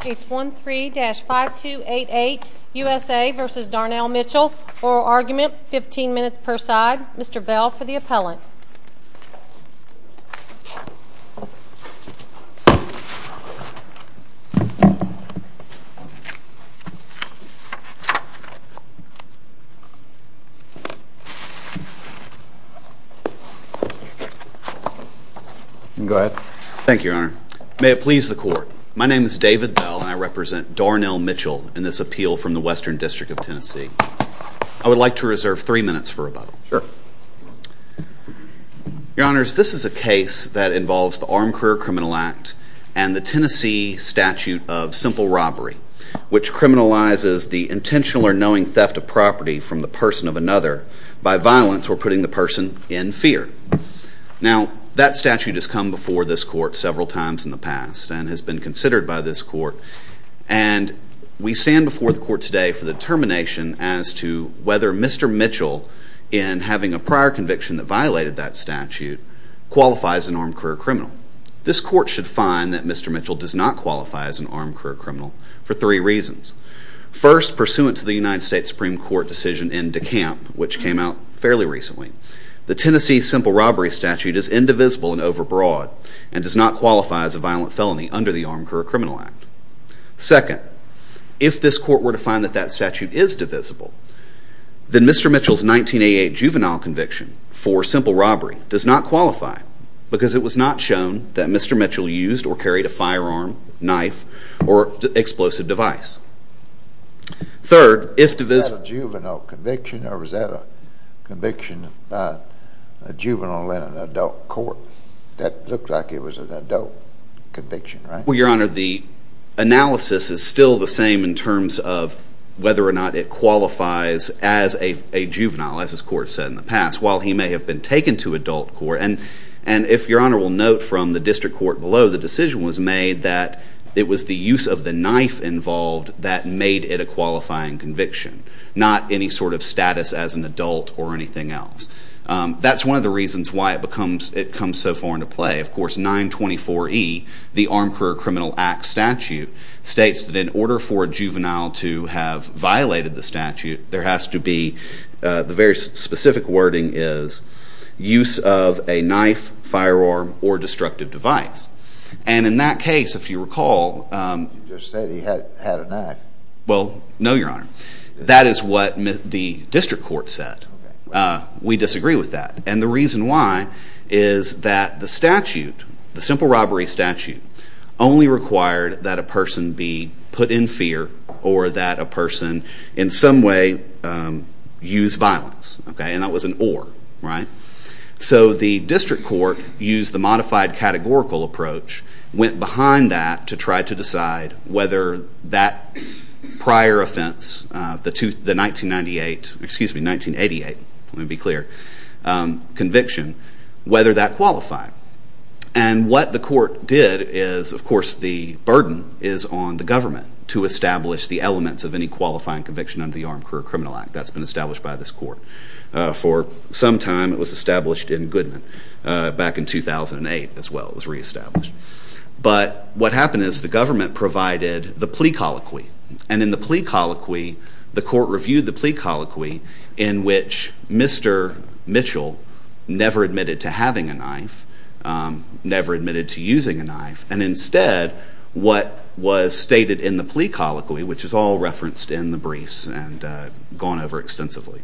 Case 13-5288, U.S.A. v. Darnell Mitchell, Oral Argument, 15 minutes per side. Mr. Bell for the appellant. Go ahead. Thank you, Your Honor. May it please the Court. My name is David Bell and I represent Darnell Mitchell in this appeal from the Western District of Tennessee. I would like to reserve three minutes for rebuttal. Sure. Your Honors, this is a case that involves the Armed Career Criminal Act and the Tennessee Statute of Simple Robbery, which criminalizes the intentional or knowing theft of property from the person of another by violence or putting the person in fear. Now, that statute has come before this Court several times in the past and has been considered by this Court, and we stand before the Court today for the determination as to whether Mr. Mitchell, in having a prior conviction that violated that statute, qualifies as an armed career criminal. This Court should find that Mr. Mitchell does not qualify as an armed career criminal for three reasons. First, pursuant to the United States Supreme Court decision in DeKalb, which came out fairly recently, the Tennessee Simple Robbery Statute is indivisible and overbroad and does not qualify as a violent felony under the Armed Career Criminal Act. Second, if this Court were to find that that statute is divisible, then Mr. Mitchell's 1988 juvenile conviction for simple robbery does not qualify because it was not shown that Mr. Mitchell used or carried a firearm, knife, or explosive device. Third, if divisible... Was that a juvenile conviction or was that a conviction by a juvenile in an adult court? That looked like it was an adult conviction, right? Well, Your Honor, the analysis is still the same in terms of whether or not it qualifies as a juvenile, as this Court said in the past, while he may have been taken to adult court. And if Your Honor will note from the district court below, the decision was made that it was the use of the knife involved that made it a qualifying conviction, not any sort of status as an adult or anything else. That's one of the reasons why it comes so far into play. Of course, 924E, the Armed Career Criminal Act statute, states that in order for a juvenile to have violated the statute, there has to be, the very specific wording is, use of a knife, firearm, or destructive device. And in that case, if you recall... You just said he had a knife. Well, no, Your Honor. That is what the district court said. We disagree with that. And the reason why is that the statute, the simple robbery statute, only required that a person be put in fear or that a person in some way use violence. And that was an or, right? So the district court used the modified categorical approach, went behind that to try to decide whether that prior offense, the 1998, excuse me, 1988, let me be clear, conviction, whether that qualified. And what the court did is, of course, the burden is on the government to establish the elements of any qualifying conviction under the Armed Career Criminal Act. That's been established by this court. For some time, it was established in Goodman. Back in 2008, as well, it was reestablished. But what happened is the government provided the plea colloquy. And in the plea colloquy, the court reviewed the plea colloquy in which Mr. Mitchell never admitted to having a knife, never admitted to using a knife. And instead, what was stated in the plea colloquy, which is all referenced in the briefs and gone over extensively,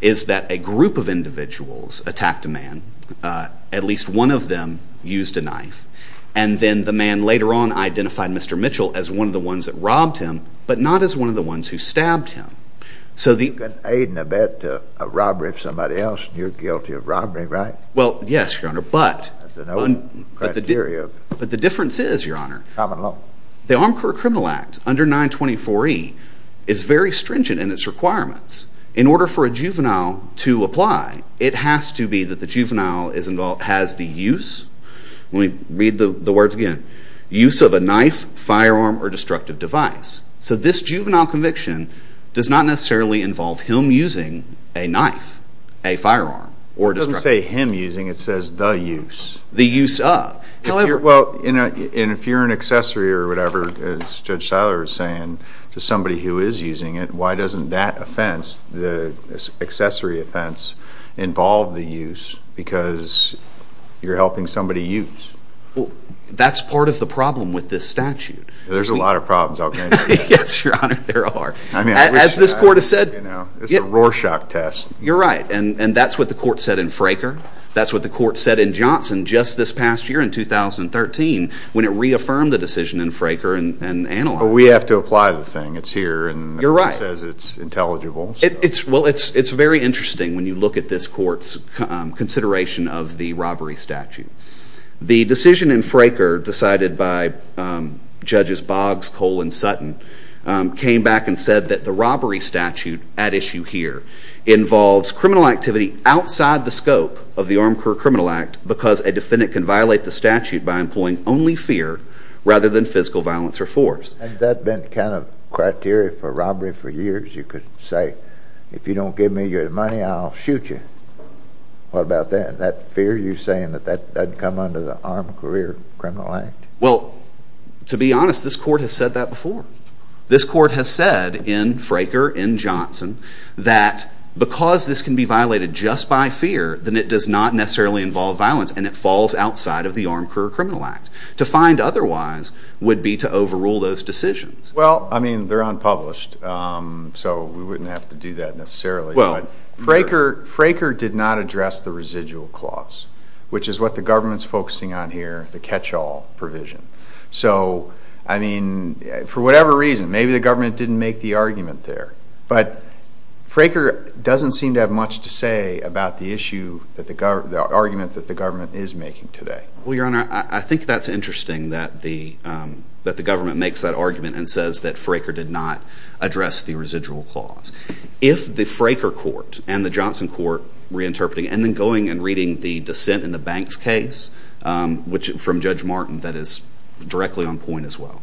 is that a group of individuals attacked a man. At least one of them used a knife. And then the man later on identified Mr. Mitchell as one of the ones that robbed him, but not as one of the ones who stabbed him. You can aid and abet a robbery of somebody else, and you're guilty of robbery, right? Well, yes, Your Honor. That's an old criteria. But the difference is, Your Honor, the Armed Career Criminal Act, under 924E, is very stringent in its requirements. In order for a juvenile to apply, it has to be that the juvenile has the use, let me read the words again, use of a knife, firearm, or destructive device. So this juvenile conviction does not necessarily involve him using a knife, a firearm, or destructive device. It doesn't say him using. It says the use. The use of. Well, if you're an accessory or whatever, as Judge Seiler was saying, to somebody who is using it, why doesn't that offense, the accessory offense, involve the use because you're helping somebody use? That's part of the problem with this statute. There's a lot of problems out there. Yes, Your Honor, there are. As this court has said. It's a Rorschach test. You're right, and that's what the court said in Fraker. That's what the court said in Johnson just this past year in 2013 when it reaffirmed the decision in Fraker and analyzed it. But we have to apply the thing. It's here and it says it's intelligible. Well, it's very interesting when you look at this court's consideration of the robbery statute. The decision in Fraker decided by Judges Boggs, Cole, and Sutton came back and said that the robbery statute at issue here involves criminal activity outside the scope of the Armed Career Criminal Act because a defendant can violate the statute by employing only fear rather than physical violence or force. Has that been kind of criteria for robbery for years? You could say, if you don't give me your money, I'll shoot you. What about that? Is that fear you're saying that that would come under the Armed Career Criminal Act? Well, to be honest, this court has said that before. This court has said in Fraker, in Johnson, that because this can be violated just by fear, then it does not necessarily involve violence and it falls outside of the Armed Career Criminal Act. To find otherwise would be to overrule those decisions. Well, I mean, they're unpublished, so we wouldn't have to do that necessarily. Well, Fraker did not address the residual clause, which is what the government's focusing on here, the catch-all provision. So, I mean, for whatever reason, maybe the government didn't make the argument there. But Fraker doesn't seem to have much to say about the issue, the argument that the government is making today. Well, Your Honor, I think that's interesting that the government makes that argument and says that Fraker did not address the residual clause. If the Fraker court and the Johnson court reinterpreting and then going and reading the dissent in the Banks case, from Judge Martin, that is directly on point as well.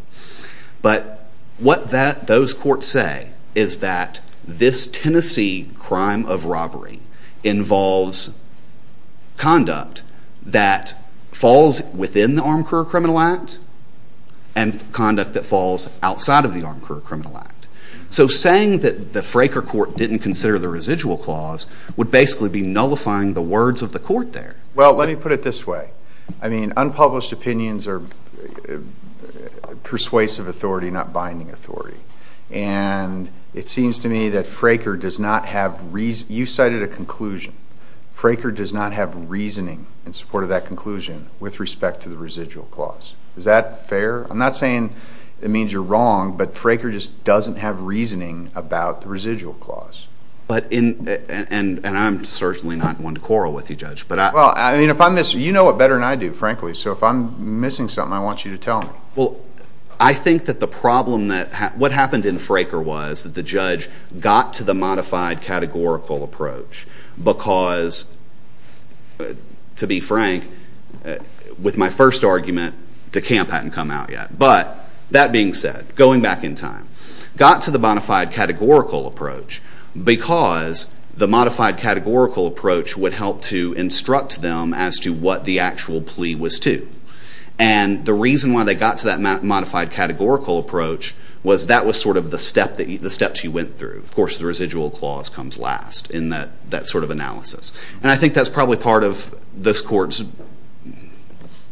But what those courts say is that this Tennessee crime of robbery involves conduct that falls within the Armed Career Criminal Act and conduct that falls outside of the Armed Career Criminal Act. So saying that the Fraker court didn't consider the residual clause would basically be nullifying the words of the court there. Well, let me put it this way. I mean, unpublished opinions are persuasive authority, not binding authority. And it seems to me that Fraker does not have reason. You cited a conclusion. Fraker does not have reasoning in support of that conclusion with respect to the residual clause. Is that fair? I'm not saying it means you're wrong, but Fraker just doesn't have reasoning about the residual clause. And I'm certainly not one to quarrel with you, Judge. Well, I mean, you know it better than I do, frankly. So if I'm missing something, I want you to tell me. Well, I think that the problem that what happened in Fraker was that the judge got to the modified categorical approach because, to be frank, with my first argument, DeCamp hadn't come out yet. But that being said, going back in time, got to the modified categorical approach because the modified categorical approach would help to instruct them as to what the actual plea was to. And the reason why they got to that modified categorical approach was that was sort of the steps you went through. Of course, the residual clause comes last in that sort of analysis. And I think that's probably part of this court's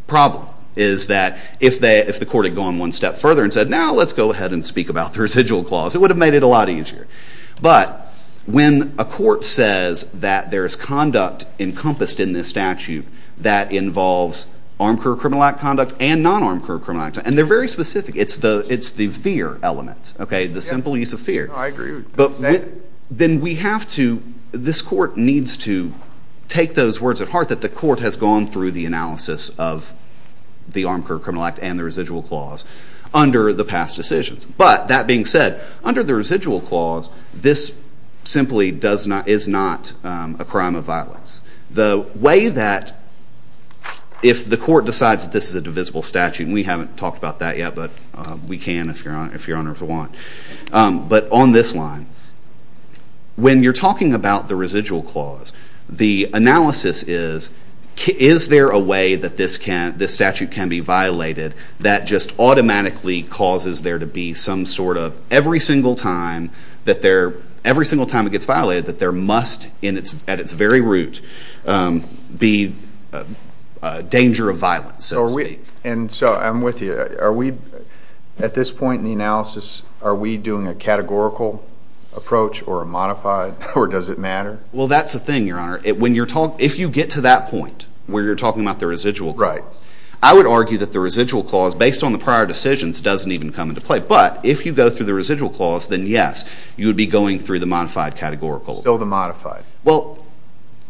problem is that if the court had gone one step further and said, now let's go ahead and speak about the residual clause, it would have made it a lot easier. But when a court says that there is conduct encompassed in this statute that involves armed career criminal act conduct and non-armed career criminal act conduct, and they're very specific, it's the fear element, the simple use of fear. No, I agree with what you're saying. Then we have to, this court needs to take those words at heart that the court has gone through the analysis of the armed career criminal act and the residual clause under the past decisions. But that being said, under the residual clause, this simply is not a crime of violence. The way that if the court decides that this is a divisible statute, and we haven't talked about that yet, but we can if Your Honor would want, but on this line, when you're talking about the residual clause, the analysis is, is there a way that this statute can be violated that just automatically causes there to be some sort of, every single time it gets violated, that there must at its very root be a danger of violence. So I'm with you. At this point in the analysis, are we doing a categorical approach or a modified, or does it matter? Well, that's the thing, Your Honor. If you get to that point where you're talking about the residual clause, I would argue that the residual clause, based on the prior decisions, doesn't even come into play. But if you go through the residual clause, then yes, you would be going through the modified categorical. Still the modified. Well,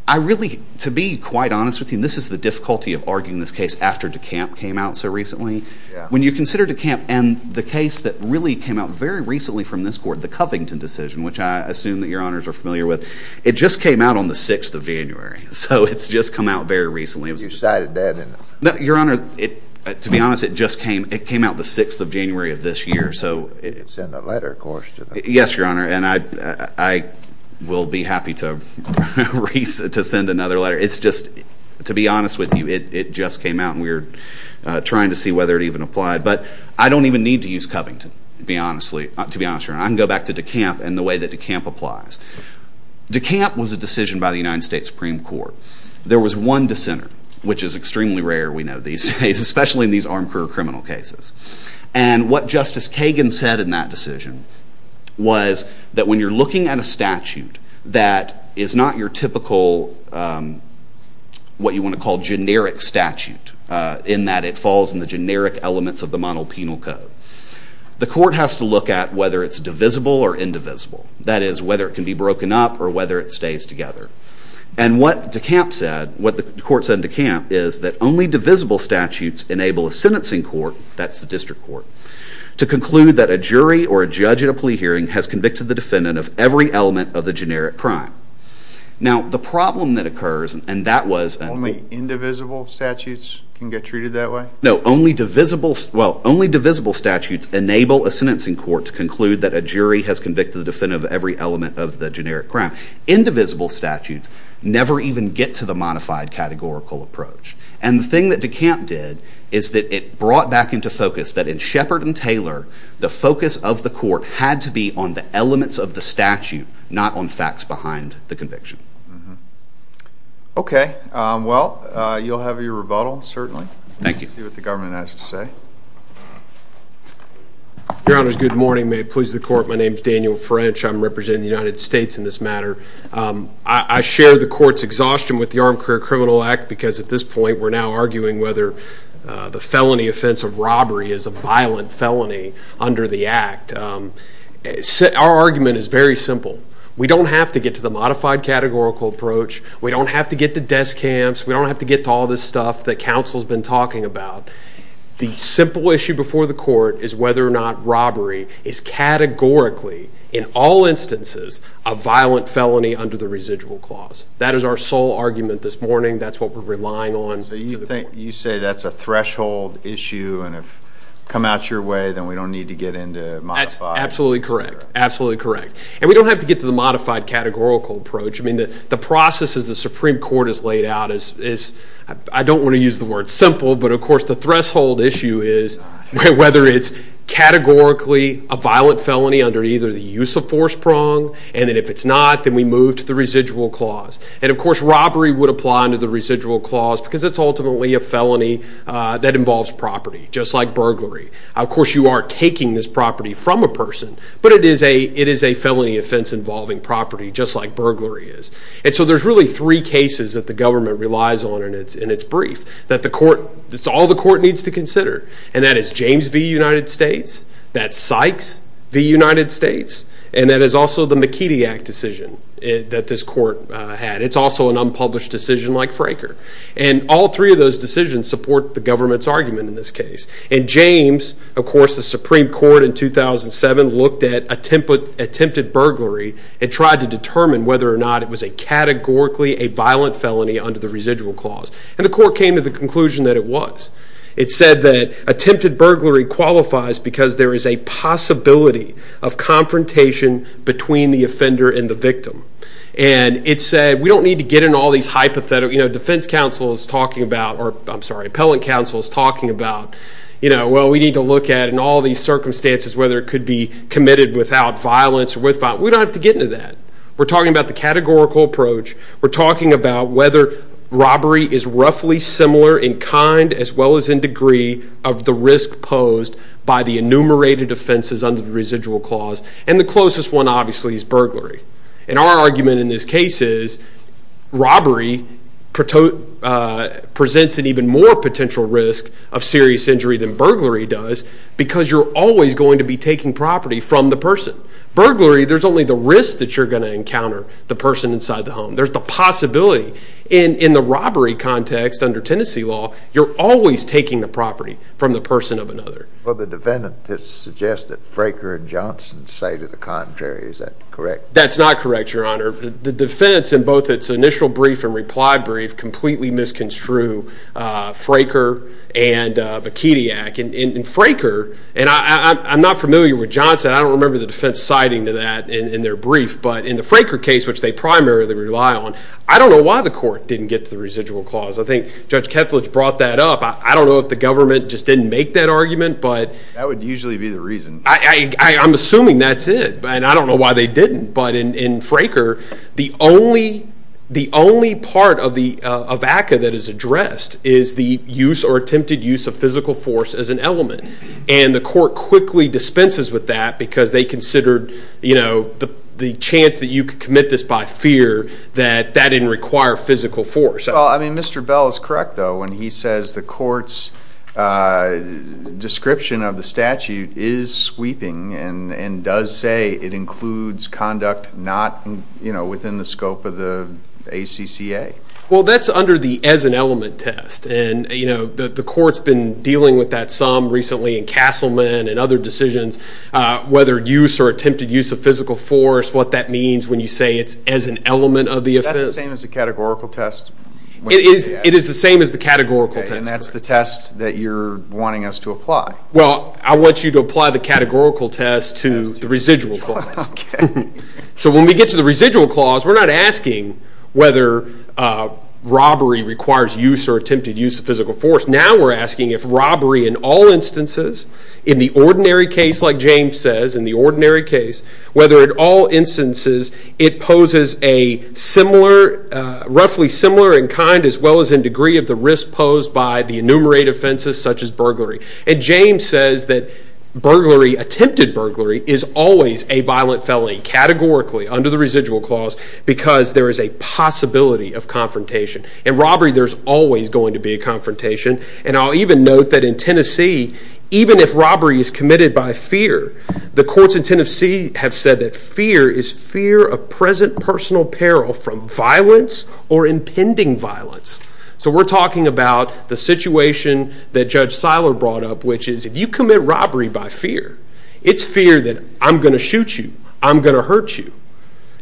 I really, to be quite honest with you, and this is the difficulty of arguing this case after DeCamp came out so recently. When you consider DeCamp and the case that really came out very recently from this court, the Covington decision, which I assume that Your Honors are familiar with, it just came out on the 6th of January. So it's just come out very recently. You cited that? No, Your Honor, to be honest, it just came out the 6th of January of this year. So it's in the letter, of course. Yes, Your Honor, and I will be happy to send another letter. It's just, to be honest with you, it just came out, and we're trying to see whether it even applied. But I don't even need to use Covington, to be honest, Your Honor. I can go back to DeCamp and the way that DeCamp applies. DeCamp was a decision by the United States Supreme Court. There was one dissenter, which is extremely rare, we know, these days, especially in these armed career criminal cases. And what Justice Kagan said in that decision was that when you're looking at a statute that is not your typical, what you want to call generic statute, in that it falls in the generic elements of the monopenal code, the court has to look at whether it's divisible or indivisible. That is, whether it can be broken up or whether it stays together. And what DeCamp said, what the court said in DeCamp, is that only divisible statutes enable a sentencing court, that's the district court, to conclude that a jury or a judge in a plea hearing has convicted the defendant of every element of the generic crime. Now, the problem that occurs, and that was... Only indivisible statutes can get treated that way? No, only divisible statutes enable a sentencing court to conclude that a jury has convicted the defendant of every element of the generic crime. Indivisible statutes never even get to the modified categorical approach. And the thing that DeCamp did is that it brought back into focus that in Shepard and Taylor, the focus of the court had to be on the elements of the statute, not on facts behind the conviction. Okay. Well, you'll have your rebuttal, certainly. Thank you. Let's see what the government has to say. Your Honor, good morning. May it please the court. My name is Daniel French. I'm representing the United States in this matter. I share the court's exhaustion with the Armed Career Criminal Act because at this point we're now arguing whether the felony offense of robbery is a violent felony under the act. Our argument is very simple. We don't have to get to the modified categorical approach. We don't have to get to DeCamp's. We don't have to get to all this stuff that counsel's been talking about. The simple issue before the court is whether or not robbery is categorically, in all instances, a violent felony under the residual clause. That is our sole argument this morning. That's what we're relying on. You say that's a threshold issue, and if it comes out your way, then we don't need to get into modified. That's absolutely correct. Absolutely correct. And we don't have to get to the modified categorical approach. The process as the Supreme Court has laid out is, I don't want to use the word simple, but of course the threshold issue is whether it's categorically a violent felony under either the use of force prong, and then if it's not, then we move to the residual clause. And of course robbery would apply under the residual clause because it's ultimately a felony that involves property, just like burglary. Of course you are taking this property from a person, but it is a felony offense involving property, just like burglary is. And so there's really three cases that the government relies on in its brief that all the court needs to consider, and that is James v. United States, that's Sykes v. United States, and that is also the McKeedy Act decision that this court had. It's also an unpublished decision like Fraker. And all three of those decisions support the government's argument in this case. And James, of course the Supreme Court in 2007 looked at attempted burglary and tried to determine whether or not it was a categorically a violent felony under the residual clause. And the court came to the conclusion that it was. It said that attempted burglary qualifies because there is a possibility of confrontation between the offender and the victim. And it said we don't need to get into all these hypotheticals. You know, defense counsel is talking about, or I'm sorry, appellate counsel is talking about, you know, well, we need to look at in all these circumstances whether it could be committed without violence or with violence. We don't have to get into that. We're talking about the categorical approach. We're talking about whether robbery is roughly similar in kind as well as in degree of the risk posed by the enumerated offenses under the residual clause. And the closest one, obviously, is burglary. And our argument in this case is robbery presents an even more potential risk of serious injury than burglary does because you're always going to be taking property from the person. Burglary, there's only the risk that you're going to encounter the person inside the home. There's the possibility. In the robbery context under Tennessee law, you're always taking the property from the person of another. Well, the defendant has suggested Fraker and Johnson say to the contrary. Is that correct? That's not correct, Your Honor. The defense in both its initial brief and reply brief completely misconstrued Fraker and Vakediak. And Fraker, and I'm not familiar with Johnson. I don't remember the defense citing to that in their brief. But in the Fraker case, which they primarily rely on, I don't know why the court didn't get to the residual clause. I think Judge Kethledge brought that up. I don't know if the government just didn't make that argument. That would usually be the reason. I'm assuming that's it, and I don't know why they didn't. But in Fraker, the only part of ACCA that is addressed is the use or attempted use of physical force as an element. And the court quickly dispenses with that because they considered the chance that you could commit this by fear that that didn't require physical force. Well, I mean, Mr. Bell is correct, though, when he says the court's description of the statute is sweeping and does say it includes conduct not within the scope of the ACCA. Well, that's under the as an element test. The court's been dealing with that some recently in Castleman and other decisions, whether use or attempted use of physical force, what that means when you say it's as an element of the offense. Is that the same as the categorical test? It is the same as the categorical test. And that's the test that you're wanting us to apply? Well, I want you to apply the categorical test to the residual clause. So when we get to the residual clause, we're not asking whether robbery requires use or attempted use of physical force. Now we're asking if robbery in all instances, in the ordinary case, like James says, whether in all instances it poses a roughly similar in kind as well as in degree of the risk posed by the enumerated offenses such as burglary. And James says that attempted burglary is always a violent felony categorically under the residual clause because there is a possibility of confrontation. In robbery, there's always going to be a confrontation. And I'll even note that in Tennessee, even if robbery is committed by fear, the courts in Tennessee have said that fear is fear of present personal peril from violence or impending violence. So we're talking about the situation that Judge Seiler brought up, which is if you commit robbery by fear, it's fear that I'm going to shoot you, I'm going to hurt you.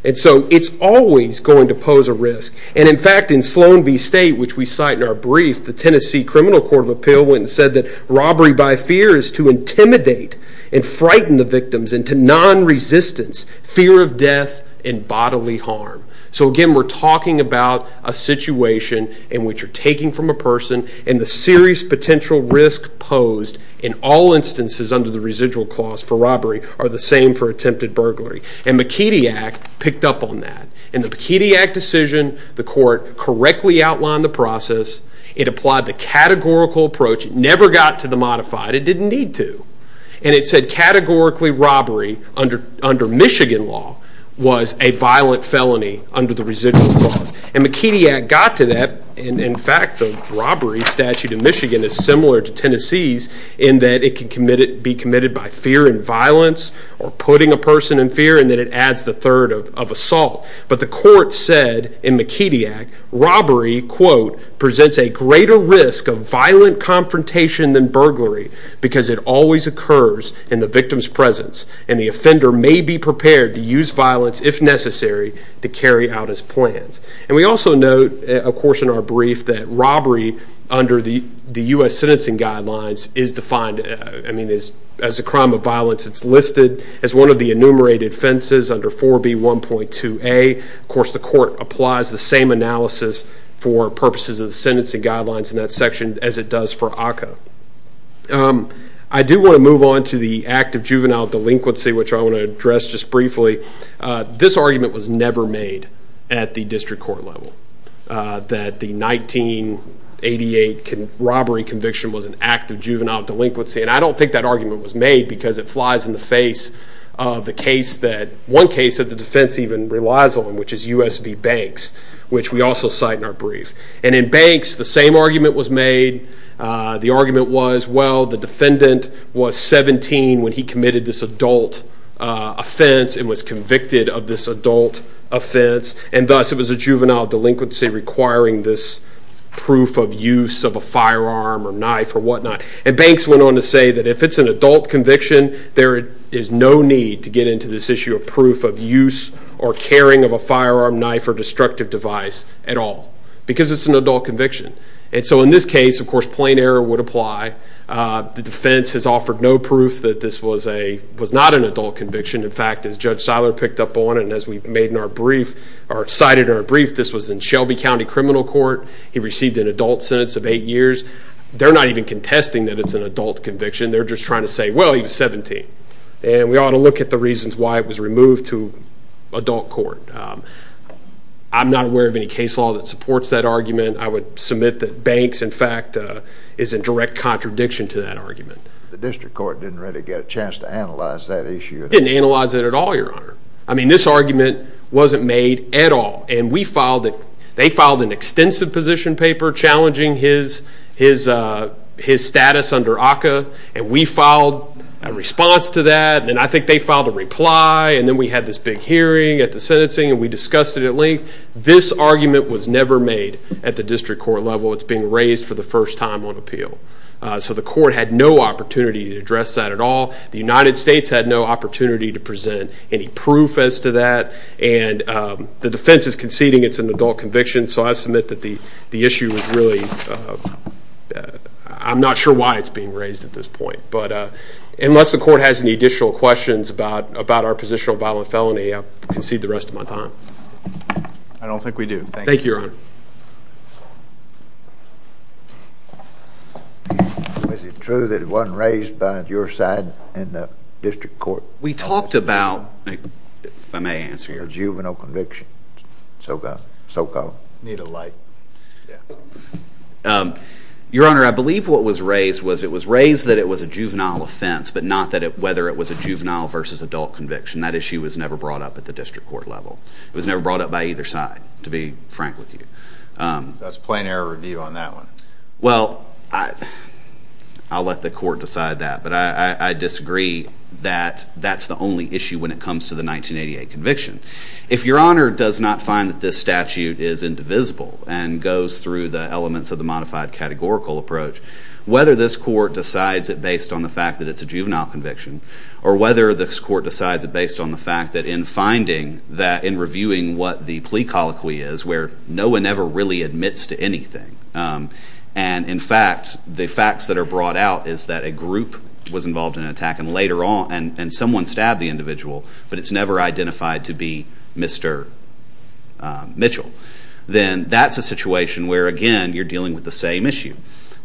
And so it's always going to pose a risk. And in fact, in Sloan v. State, which we cite in our brief, the Tennessee Criminal Court of Appeal went and said that robbery by fear is to intimidate and frighten the victims and to non-resistance fear of death and bodily harm. So again, we're talking about a situation in which you're taking from a person and the serious potential risk posed in all instances under the residual clause for robbery are the same for attempted burglary. And McKedy Act picked up on that. In the McKedy Act decision, the court correctly outlined the process. It applied the categorical approach. It never got to the modified. It didn't need to. And it said categorically robbery under Michigan law was a violent felony under the residual clause. And McKedy Act got to that. In fact, the robbery statute in Michigan is similar to Tennessee's in that it can be committed by fear and violence or putting a person in fear and then it adds the third of assault. But the court said in McKedy Act, robbery, quote, presents a greater risk of violent confrontation than burglary because it always occurs in the victim's presence and the offender may be prepared to use violence if necessary to carry out his plans. And we also note, of course, in our brief, that robbery under the U.S. sentencing guidelines is defined as a crime of violence. It's listed as one of the enumerated offenses under 4B1.2a. Of course, the court applies the same analysis for purposes of the sentencing guidelines in that section as it does for ACCA. I do want to move on to the act of juvenile delinquency, which I want to address just briefly. This argument was never made at the district court level, that the 1988 robbery conviction was an act of juvenile delinquency, and I don't think that argument was made because it flies in the face of the case that, one case that the defense even relies on, which is USB Banks, which we also cite in our brief. And in Banks, the same argument was made. The argument was, well, the defendant was 17 when he committed this adult offense and was convicted of this adult offense, and thus it was a juvenile delinquency requiring this proof of use of a firearm or knife or whatnot. And Banks went on to say that if it's an adult conviction, there is no need to get into this issue of proof of use or carrying of a firearm, knife, or destructive device at all because it's an adult conviction. And so in this case, of course, plain error would apply. The defense has offered no proof that this was not an adult conviction. In fact, as Judge Seiler picked up on and as we made in our brief or cited in our brief, this was in Shelby County Criminal Court. He received an adult sentence of eight years. They're not even contesting that it's an adult conviction. They're just trying to say, well, he was 17, and we ought to look at the reasons why it was removed to adult court. I'm not aware of any case law that supports that argument. I would submit that Banks, in fact, is in direct contradiction to that argument. The district court didn't really get a chance to analyze that issue. They didn't analyze it at all, Your Honor. I mean, this argument wasn't made at all, and we filed it. They filed an extensive position paper challenging his status under ACCA, and we filed a response to that, and I think they filed a reply, and then we had this big hearing at the sentencing, and we discussed it at length. This argument was never made at the district court level. It's being raised for the first time on appeal. So the court had no opportunity to address that at all. The United States had no opportunity to present any proof as to that, and the defense is conceding it's an adult conviction, so I submit that the issue was really – I'm not sure why it's being raised at this point. But unless the court has any additional questions about our positional violent felony, I concede the rest of my time. Thank you, Your Honor. Is it true that it wasn't raised by your side in the district court? We talked about, if I may answer your question. A juvenile conviction, so-called? Need a light. Your Honor, I believe what was raised was it was raised that it was a juvenile offense, but not whether it was a juvenile versus adult conviction. That issue was never brought up at the district court level. It was never brought up by either side, to be frank with you. That's a plain error review on that one. Well, I'll let the court decide that, but I disagree that that's the only issue when it comes to the 1988 conviction. If Your Honor does not find that this statute is indivisible and goes through the elements of the modified categorical approach, whether this court decides it based on the fact that it's a juvenile conviction or whether this court decides it based on the fact that in finding that – in reviewing what the plea colloquy is, where no one ever really admits to anything, and in fact the facts that are brought out is that a group was involved in an attack and later on someone stabbed the individual, but it's never identified to be Mr. Mitchell, then that's a situation where, again, you're dealing with the same issue.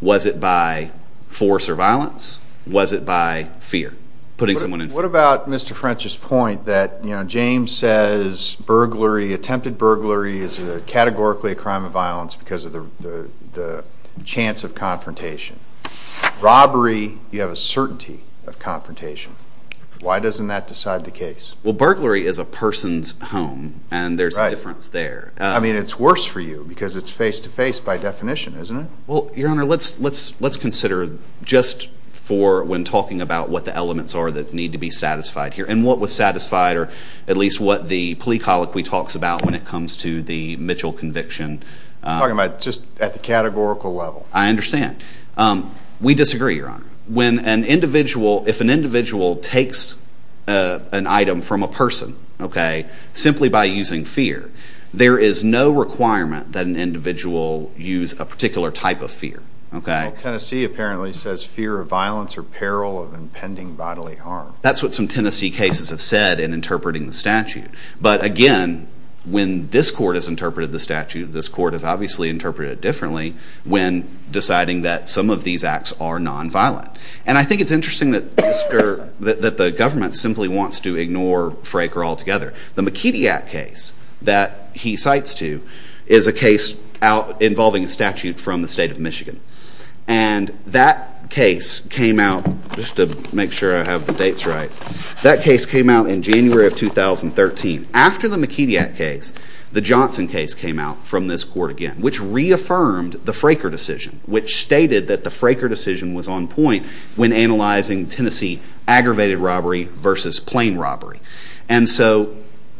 Was it by force or violence? Was it by fear? What about Mr. French's point that James says attempted burglary is categorically a crime of violence because of the chance of confrontation? Robbery, you have a certainty of confrontation. Why doesn't that decide the case? Well, burglary is a person's home, and there's a difference there. I mean, it's worse for you because it's face-to-face by definition, isn't it? Well, Your Honor, let's consider just for when talking about what the elements are that need to be satisfied here and what was satisfied or at least what the plea colloquy talks about when it comes to the Mitchell conviction. I'm talking about just at the categorical level. I understand. We disagree, Your Honor. If an individual takes an item from a person simply by using fear, there is no requirement that an individual use a particular type of fear. Well, Tennessee apparently says fear of violence or peril of impending bodily harm. That's what some Tennessee cases have said in interpreting the statute. But again, when this court has interpreted the statute, this court has obviously interpreted it differently when deciding that some of these acts are nonviolent. And I think it's interesting that the government simply wants to ignore Fraker altogether. The McKety Act case that he cites to is a case involving a statute from the state of Michigan. And that case came out, just to make sure I have the dates right, that case came out in January of 2013. After the McKety Act case, the Johnson case came out from this court again, which reaffirmed the Fraker decision, which stated that the Fraker decision was on point when analyzing Tennessee aggravated robbery versus plain robbery. And so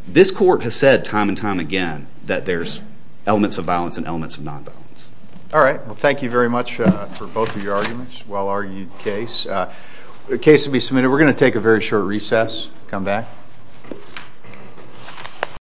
this court has said time and time again that there's elements of violence and elements of nonviolence. All right. Well, thank you very much for both of your arguments. Well-argued case. The case will be submitted. We're going to take a very short recess. Come back.